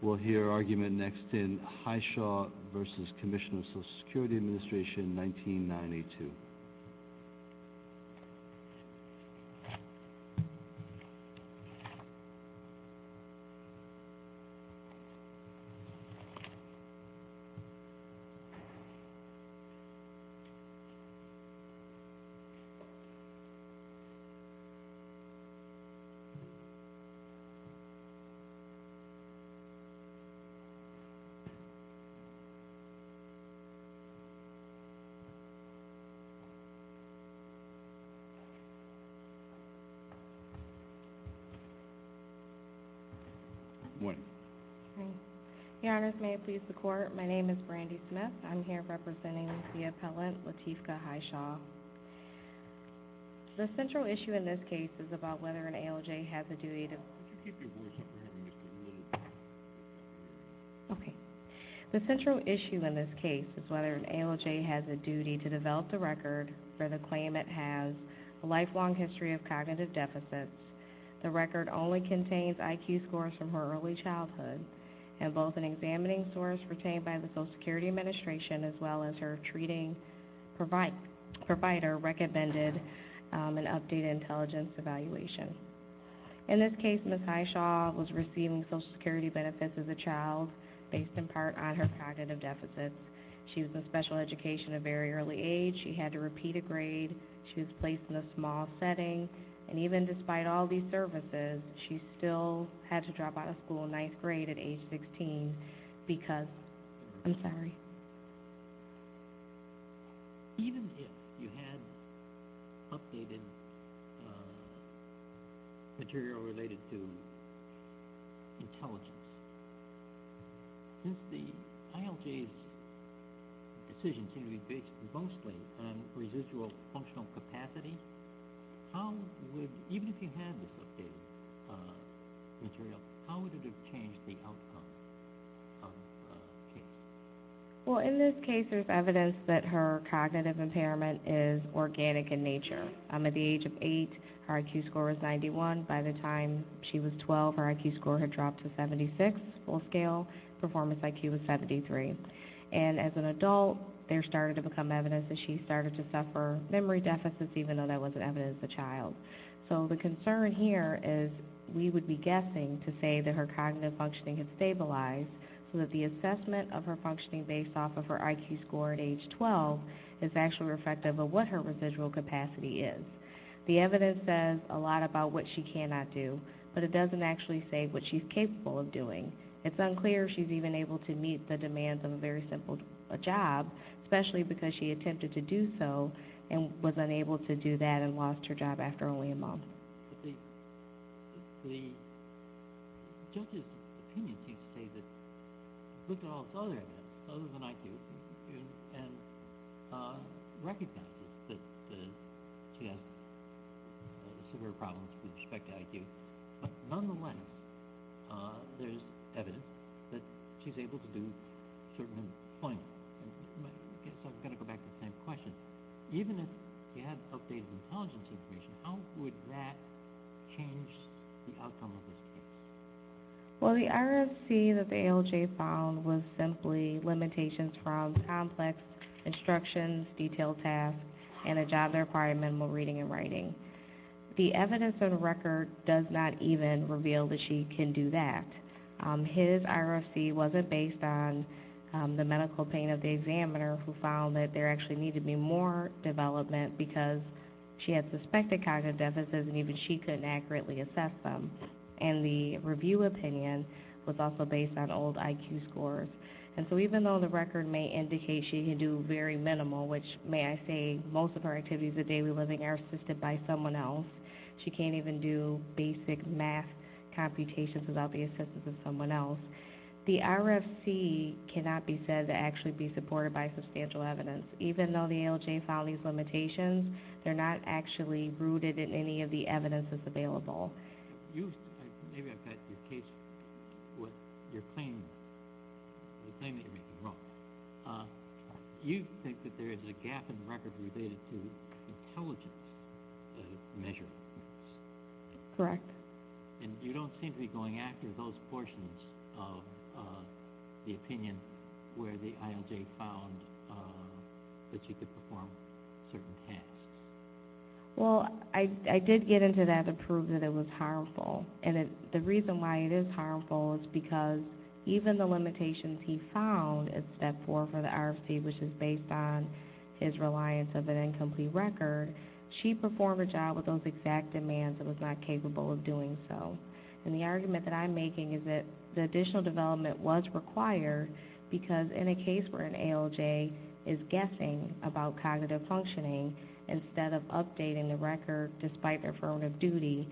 We'll hear argument next in Hyshaw v. Commissioner of Social Security Administration, 1992. Brandy Smith v. Lateefka Hyshaw The central issue in this case is about whether an ALJ has a duty to develop the record for the claim it has a lifelong history of cognitive deficits. The record only contains IQ scores from her early childhood, and both an examining source retained by the Social Security Administration as well as her treating provider recommended an updated intelligence evaluation. In this case, Ms. Hyshaw was receiving Social Security benefits as a child based in part on her cognitive deficits. She was in special education at a very early age. She had to repeat a grade. She was placed in a small setting, and even despite all these services, she still had to drop out of school in ninth grade at age 16 because, I'm sorry. Even if you had updated material related to intelligence, since the ALJ's decision seemed to be based mostly on residual functional capacity, how would, even if you had this material, how would it have changed the outcome of the case? Well, in this case, there's evidence that her cognitive impairment is organic in nature. At the age of eight, her IQ score was 91. By the time she was 12, her IQ score had dropped to 76, full scale. Performance IQ was 73. And as an adult, there started to become evidence that she started to suffer memory deficits, even though that wasn't evidence as a child. So the concern here is we would be guessing to say that her cognitive functioning had stabilized, so that the assessment of her functioning based off of her IQ score at age 12 is actually reflective of what her residual capacity is. The evidence says a lot about what she cannot do, but it doesn't actually say what she's capable of doing. It's unclear if she's even able to meet the demands of a very simple job, especially because she attempted to do so and was unable to do that and lost her job after only a month. The judge's opinion seems to say that she looked at all her other events other than IQ and recognizes that she has severe problems with respect to IQ, but nonetheless, there's evidence that she's able to do certain appointments. I guess I've got to go back to the same question. Even if you had updated intelligence information, how would that change the outcome of this case? Well, the RFC that the ALJ found was simply limitations from complex instructions, detailed tasks, and a job that required minimal reading and writing. The evidence of the record does not even reveal that she can do that. His RFC wasn't based on the medical pain of the examiner who found that there actually needed to be more development because she had suspected cognitive deficits and even she couldn't accurately assess them. And the review opinion was also based on old IQ scores. And so even though the record may indicate she can do very minimal, which may I say most of her activities of daily living are assisted by someone else, she can't even do basic math computations without the assistance of someone else, the RFC cannot be said to actually be supported by substantial evidence. Even though the ALJ found these limitations, they're not actually rooted in any of the evidence that's available. Maybe I've got your case with your claim, the claim that you're making wrong. Do you think that there is a gap in the record related to intelligence measure? Correct. And you don't seem to be going after those portions of the opinion where the ALJ found that she could perform certain tasks. Well, I did get into that to prove that it was harmful. And the reason why it is harmful is because even the limitations he found at step four for the RFC, which is based on his reliance of an incomplete record, she performed a job with those exact demands and was not capable of doing so. And the argument that I'm making is that the additional development was required because in a case where an ALJ is guessing about cognitive functioning instead of updating the record despite their formative duty,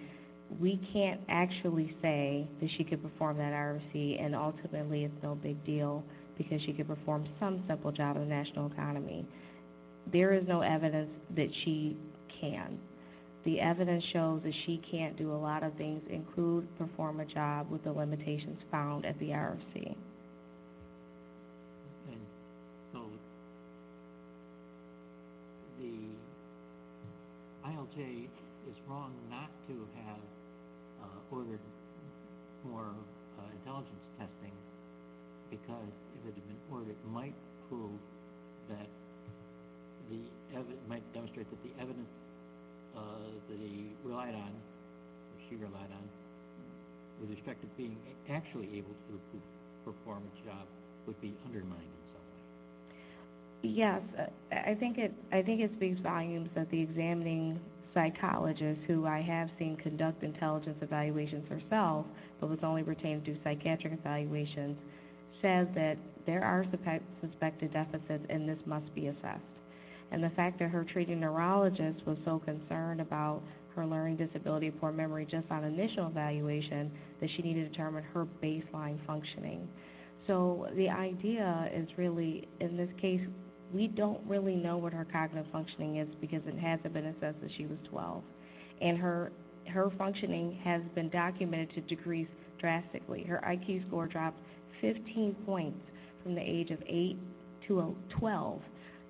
we can't actually say that she could perform that RFC and ultimately it's no big deal because she could perform some simple job in the national economy. There is no evidence that she can. The evidence shows that she can't do a lot of things, include perform a job with the limitations found at the RFC. And so the ALJ is wrong not to have ordered more intelligence testing because if it had been ordered, it might demonstrate that the evidence that he relied on, she relied on, with respect to being actually able to perform a job would be undermining something. Yes. I think it speaks volumes that the examining psychologist who I have seen conduct intelligence evaluations herself, but this only pertains to psychiatric evaluations, says that there are suspected deficits and this must be assessed. And the fact that her treating neurologist was so concerned about her learning disability and poor memory just on initial evaluation that she needed to determine her baseline functioning. So the idea is really, in this case, we don't really know what her cognitive functioning is because it hasn't been assessed since she was 12. And her functioning has been documented to degrees drastically. Her IQ score dropped 15 points from the age of 8 to 12.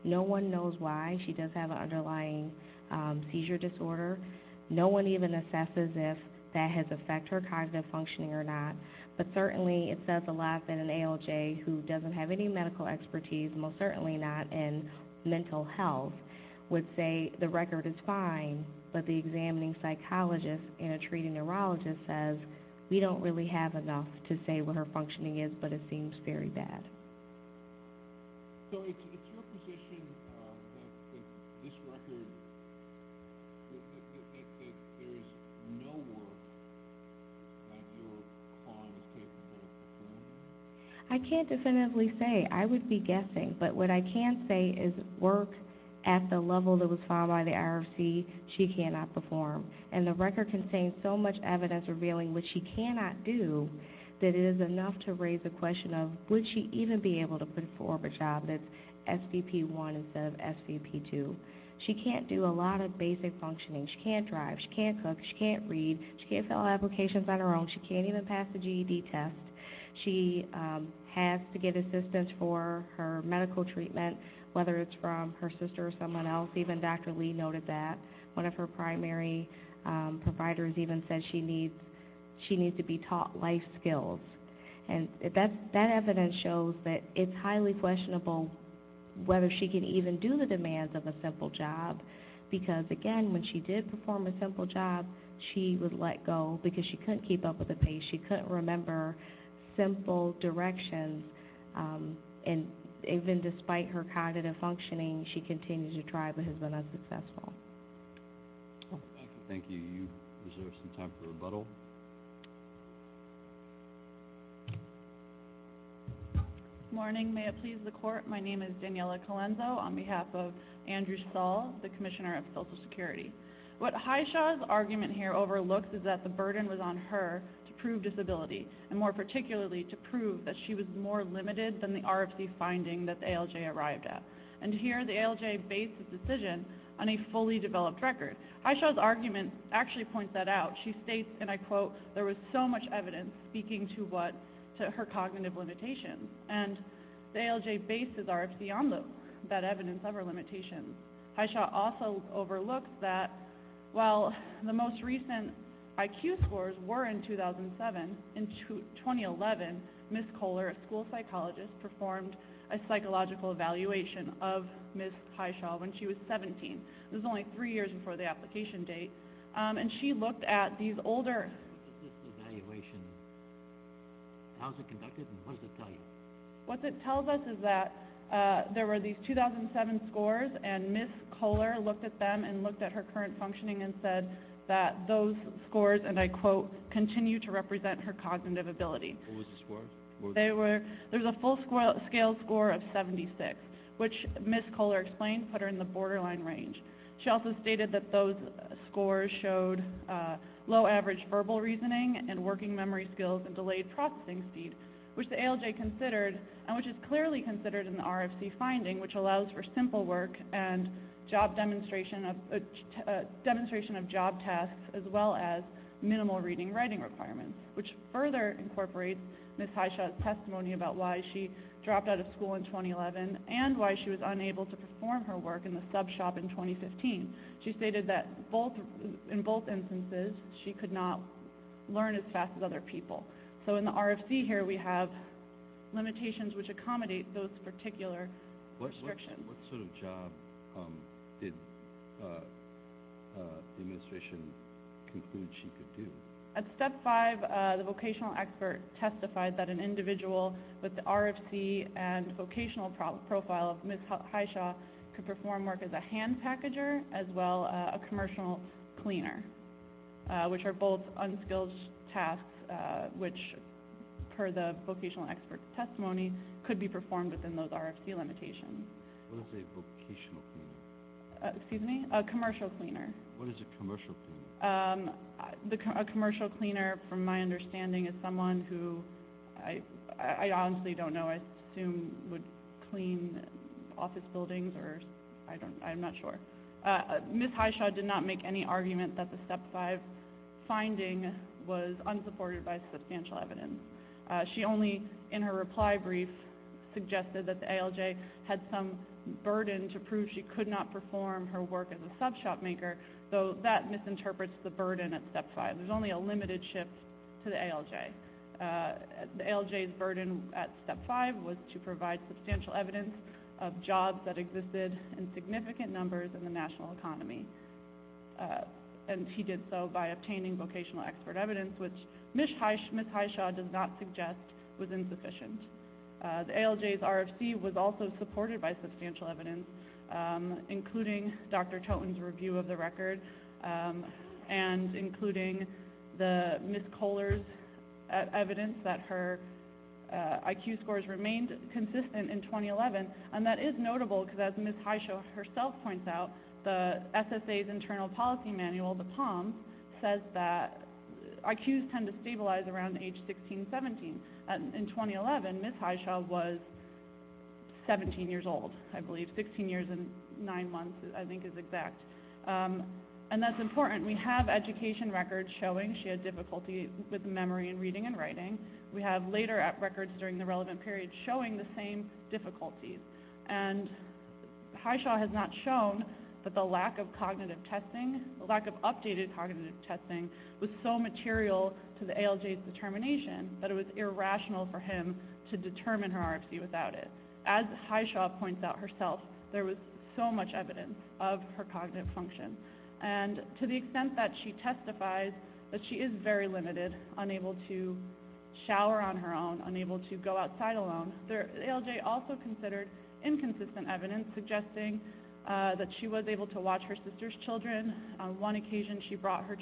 No one knows why. She does have an underlying seizure disorder. No one even assesses if that has affected her cognitive functioning or not. But certainly it says a lot that an ALJ who doesn't have any medical expertise, most certainly not in mental health, would say the record is fine, but the examining psychologist and a treating neurologist says we don't really have enough to say what her functioning is, but it seems very bad. So it's your position that this record, that there is no work that your client is capable of performing? I can't definitively say. I would be guessing. But what I can say is work at the level that was found by the IRC, she cannot perform. And the record contains so much evidence revealing what she cannot do that it is enough to raise the question of would she even be able to perform a job that's SVP1 instead of SVP2. She can't do a lot of basic functioning. She can't drive. She can't cook. She can't read. She can't fill out applications on her own. She can't even pass the GED test. She has to get assistance for her medical treatment, whether it's from her sister or someone else. Even Dr. Lee noted that. One of her primary providers even said she needs to be taught life skills. And that evidence shows that it's highly questionable whether she can even do the demands of a simple job because, again, when she did perform a simple job, she would let go because she couldn't keep up with the pace. She couldn't remember simple directions. And even despite her cognitive functioning, she continues to try but has been unsuccessful. Thank you. Is there some time for rebuttal? Good morning. May it please the court, my name is Daniella Colenso on behalf of Andrew Saul, the Commissioner of Social Security. What Hyshaw's argument here overlooks is that the burden was on her to prove disability and, more particularly, to prove that she was more limited than the RFC finding that the ALJ arrived at. And here the ALJ based its decision on a fully developed record. Hyshaw's argument actually points that out. She states, and I quote, there was so much evidence speaking to what, to her cognitive limitations. And the ALJ bases RFC on that evidence of her limitations. Hyshaw also overlooks that while the most recent IQ scores were in 2007, in 2011, Ms. Kohler, a school psychologist, performed a psychological evaluation of Ms. Hyshaw when she was 17. This was only three years before the application date. And she looked at these older... What does this evaluation, how is it conducted and what does it tell you? What it tells us is that there were these 2007 scores and Ms. Kohler looked at them and looked at her current functioning and said that those scores, and I quote, continue to represent her cognitive ability. What were the scores? They were, there was a full scale score of 76, which Ms. Kohler explained put her in the borderline range. She also stated that those scores showed low average verbal reasoning and working memory skills and delayed processing speed, which the ALJ considered, and which is clearly considered in the RFC finding, which allows for simple work and job demonstration of, demonstration of job tasks as well as minimal reading and writing requirements, which further incorporates Ms. Hyshaw's testimony about why she dropped out of school in 2011 and why she was unable to perform her work in the sub shop in 2015. She stated that both, in both instances, she could not learn as fast as other people. So in the RFC here we have limitations which accommodate those particular restrictions. What sort of job did the administration conclude she could do? At step five, the vocational expert testified that an individual with the RFC and vocational profile of Ms. Hyshaw could perform work as a hand packager as well as a commercial cleaner, which are both unskilled tasks which, per the vocational expert's testimony, could be performed within those RFC limitations. What is a vocational cleaner? Excuse me? A commercial cleaner. What is a commercial cleaner? A commercial cleaner, from my understanding, is someone who, I honestly don't know, I assume would clean office buildings or I don't, I'm not sure. Ms. Hyshaw did not make any argument that the step five finding was unsupported by substantial evidence. She only, in her reply brief, suggested that the ALJ had some burden to prove she could not perform her work as a sub shop maker, though that misinterprets the burden at step five. There's only a limited shift to the ALJ. The ALJ's burden at step five was to provide substantial evidence of jobs that existed in significant numbers in the national economy, and he did so by obtaining vocational expert evidence, which Ms. Hyshaw does not suggest was insufficient. The ALJ's RFC was also supported by substantial evidence, including Dr. Toton's review of the record and including Ms. Kohler's evidence that her IQ scores remained consistent in 2011, and that is notable because, as Ms. Hyshaw herself points out, the SSA's internal policy manual, the POM, says that IQs tend to stabilize around age 16, 17. In 2011, Ms. Hyshaw was 17 years old, I believe. Sixteen years and nine months, I think, is exact. And that's important. We have education records showing she had difficulty with memory and reading and writing. We have later records during the relevant period showing the same difficulties. And Hyshaw has not shown that the lack of cognitive testing, the lack of updated cognitive testing was so material to the ALJ's determination that it was irrational for him to determine her RFC without it. As Hyshaw points out herself, there was so much evidence of her cognitive function. And to the extent that she testifies that she is very limited, unable to shower on her own, unable to go outside alone, the ALJ also considered inconsistent evidence suggesting that she was able to watch her sister's children. On one occasion she brought her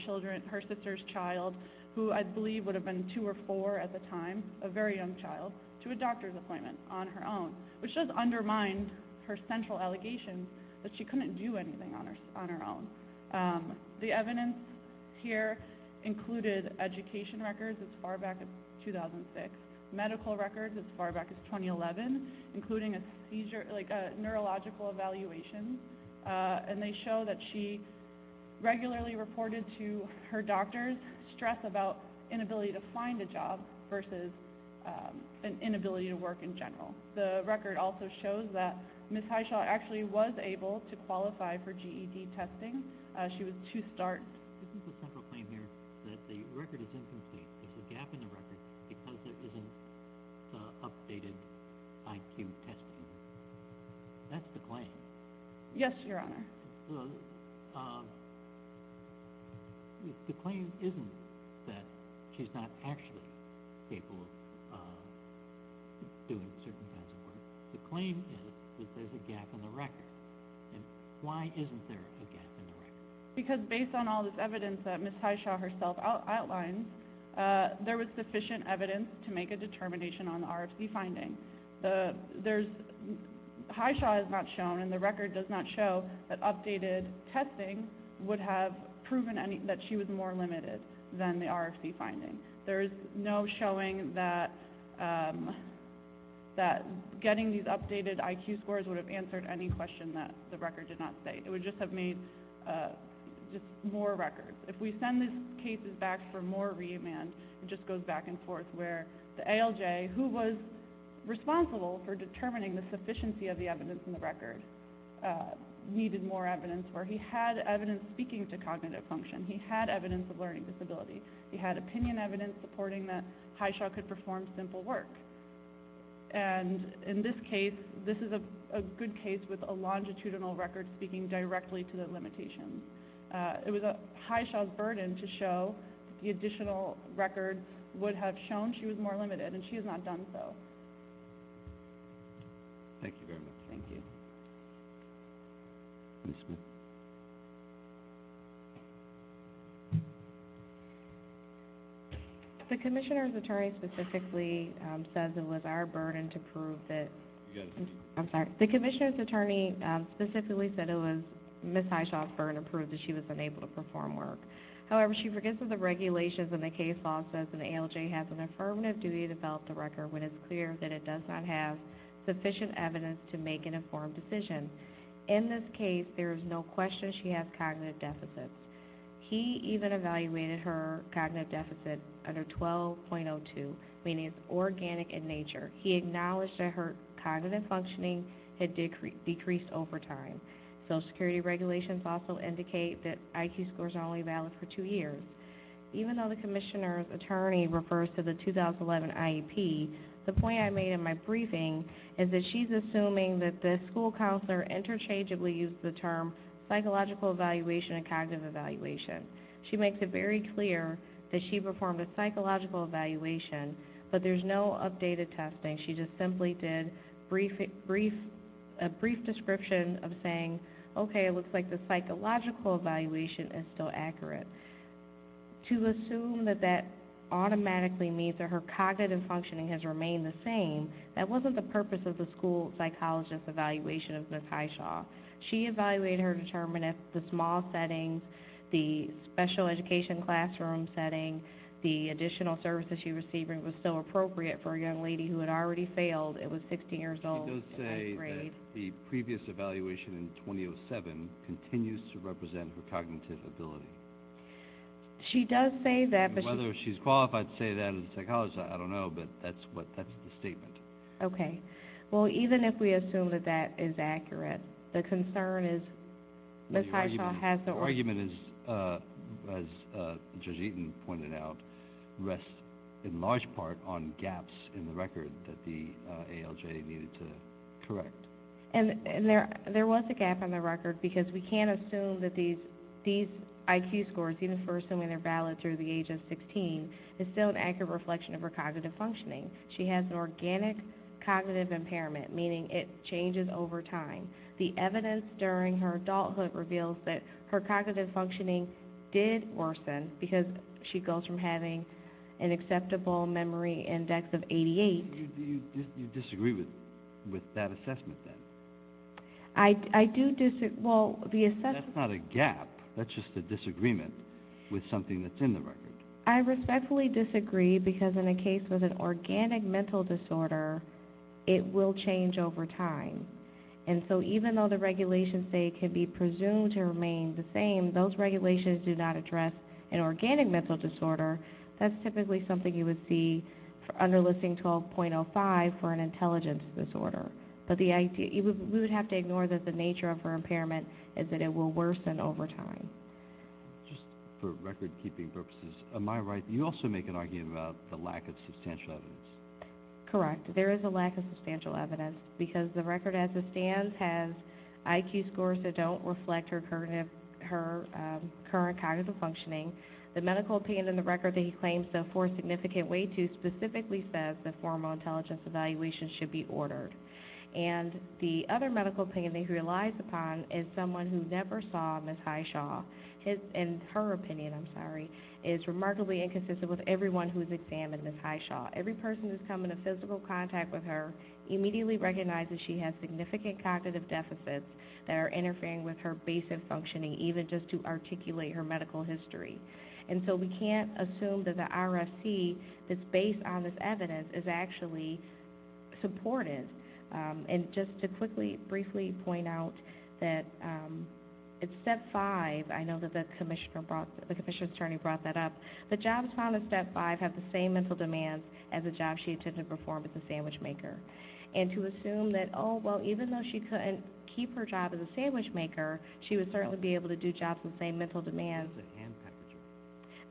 sister's child, who I believe would have been two or four at the time, a very young child, to a doctor's appointment on her own, which does undermine her central allegation that she couldn't do anything on her own. The evidence here included education records as far back as 2006, medical records as far back as 2011, including a neurological evaluation. And they show that she regularly reported to her doctors stress about inability to find a job The record also shows that Ms. Hyshaw actually was able to qualify for GED testing. She was two starts. Isn't the central claim here that the record is incomplete? There's a gap in the record because there isn't updated IQ testing? That's the claim. Yes, Your Honor. The claim isn't that she's not actually capable of doing certain kinds of work. The claim is that there's a gap in the record. And why isn't there a gap in the record? Because based on all this evidence that Ms. Hyshaw herself outlined, there was sufficient evidence to make a determination on the RFC finding. Hyshaw is not shown, and the record does not show, that updated testing would have proven that she was more limited than the RFC finding. There is no showing that getting these updated IQ scores would have answered any question that the record did not state. It would just have made more records. If we send these cases back for more remand, it just goes back and forth, where the ALJ, who was responsible for determining the sufficiency of the evidence in the record, needed more evidence where he had evidence speaking to cognitive function. He had evidence of learning disability. He had opinion evidence supporting that Hyshaw could perform simple work. And in this case, this is a good case with a longitudinal record speaking directly to the limitations. It was Hyshaw's burden to show the additional records would have shown she was more limited, and she has not done so. Thank you very much. Thank you. The Commissioner's Attorney specifically says it was our burden to prove that. I'm sorry. The Commissioner's Attorney specifically said it was Ms. Hyshaw's burden to prove that she was unable to perform work. However, she forgets that the regulations and the case law says an ALJ has an affirmative duty to develop the record when it's clear that it does not have sufficient evidence to make an informed decision. In this case, there is no question she has cognitive deficits. He even evaluated her cognitive deficit under 12.02, meaning it's organic in nature. He acknowledged that her cognitive functioning had decreased over time. Social Security regulations also indicate that IQ scores are only valid for two years. Even though the Commissioner's Attorney refers to the 2011 IEP, the point I made in my briefing is that she's assuming that the school counselor interchangeably used the term psychological evaluation and cognitive evaluation. She makes it very clear that she performed a psychological evaluation, but there's no updated testing. She just simply did a brief description of saying, okay, it looks like the psychological evaluation is still accurate. To assume that that automatically means that her cognitive functioning has remained the same, that wasn't the purpose of the school psychologist evaluation of Ms. Hyshaw. She evaluated her to determine if the small settings, the special education classroom setting, the additional services she received was still appropriate for a young lady who had already failed. It was 16 years old. She does say that the previous evaluation in 2007 continues to represent her cognitive ability. She does say that. Whether she's qualified to say that as a psychologist, I don't know, but that's the statement. Okay. Well, even if we assume that that is accurate, the concern is Ms. Hyshaw has the origin. The argument is, as Judge Eaton pointed out, rests in large part on gaps in the record that the ALJ needed to correct. And there was a gap in the record because we can't assume that these IQ scores, even for assuming they're valid through the age of 16, is still an accurate reflection of her cognitive functioning. She has an organic cognitive impairment, meaning it changes over time. The evidence during her adulthood reveals that her cognitive functioning did worsen because she goes from having an acceptable memory index of 88. You disagree with that assessment then? I do disagree. That's not a gap. That's just a disagreement with something that's in the record. I respectfully disagree because in a case with an organic mental disorder, it will change over time. And so even though the regulations say it can be presumed to remain the same, those regulations do not address an organic mental disorder. That's typically something you would see under Listing 12.05 for an intelligence disorder. But we would have to ignore that the nature of her impairment is that it will worsen over time. Just for record-keeping purposes, am I right? You also make an argument about the lack of substantial evidence. Correct. There is a lack of substantial evidence because the record as it stands has IQ scores that don't reflect her current cognitive functioning. The medical opinion in the record that he claims to afford significant weight to specifically says that formal intelligence evaluation should be ordered. And the other medical opinion that he relies upon is someone who never saw Ms. Hyshaw, in her opinion, I'm sorry, is remarkably inconsistent with everyone who's examined Ms. Hyshaw. Every person who's come into physical contact with her immediately recognizes she has significant cognitive deficits that are interfering with her basic functioning, even just to articulate her medical history. And so we can't assume that the RFC that's based on this evidence is actually supported. And just to quickly, briefly point out that it's step five. I know that the commissioner brought, the commissioner's attorney brought that up. The jobs found in step five have the same mental demands as a job she attempted to perform as a sandwich maker. And to assume that, oh, well, even though she couldn't keep her job as a sandwich maker, she would certainly be able to do jobs with the same mental demands. That's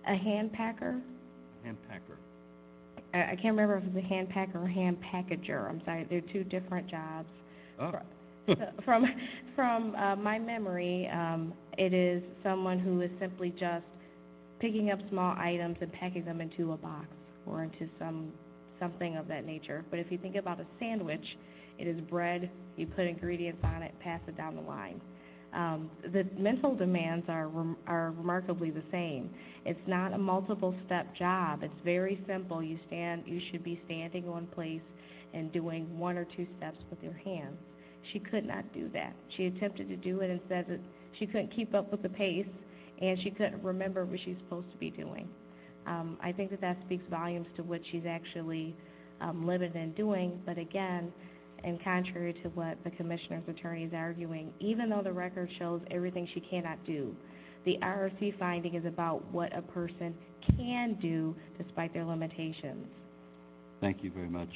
a hand packer. A hand packer? A hand packer. I can't remember if it's a hand packer or a hand packager. I'm sorry. They're two different jobs. From my memory, it is someone who is simply just picking up small items and packing them into a box or into something of that nature. But if you think about a sandwich, it is bread, you put ingredients on it, pass it down the line. The mental demands are remarkably the same. It's not a multiple-step job. It's very simple. You should be standing on place and doing one or two steps with your hands. She could not do that. She attempted to do it and said that she couldn't keep up with the pace and she couldn't remember what she was supposed to be doing. I think that that speaks volumes to what she's actually limited in doing. But, again, and contrary to what the commissioner's attorney is arguing, even though the record shows everything she cannot do, the ROC finding is about what a person can do despite their limitations. Thank you very much.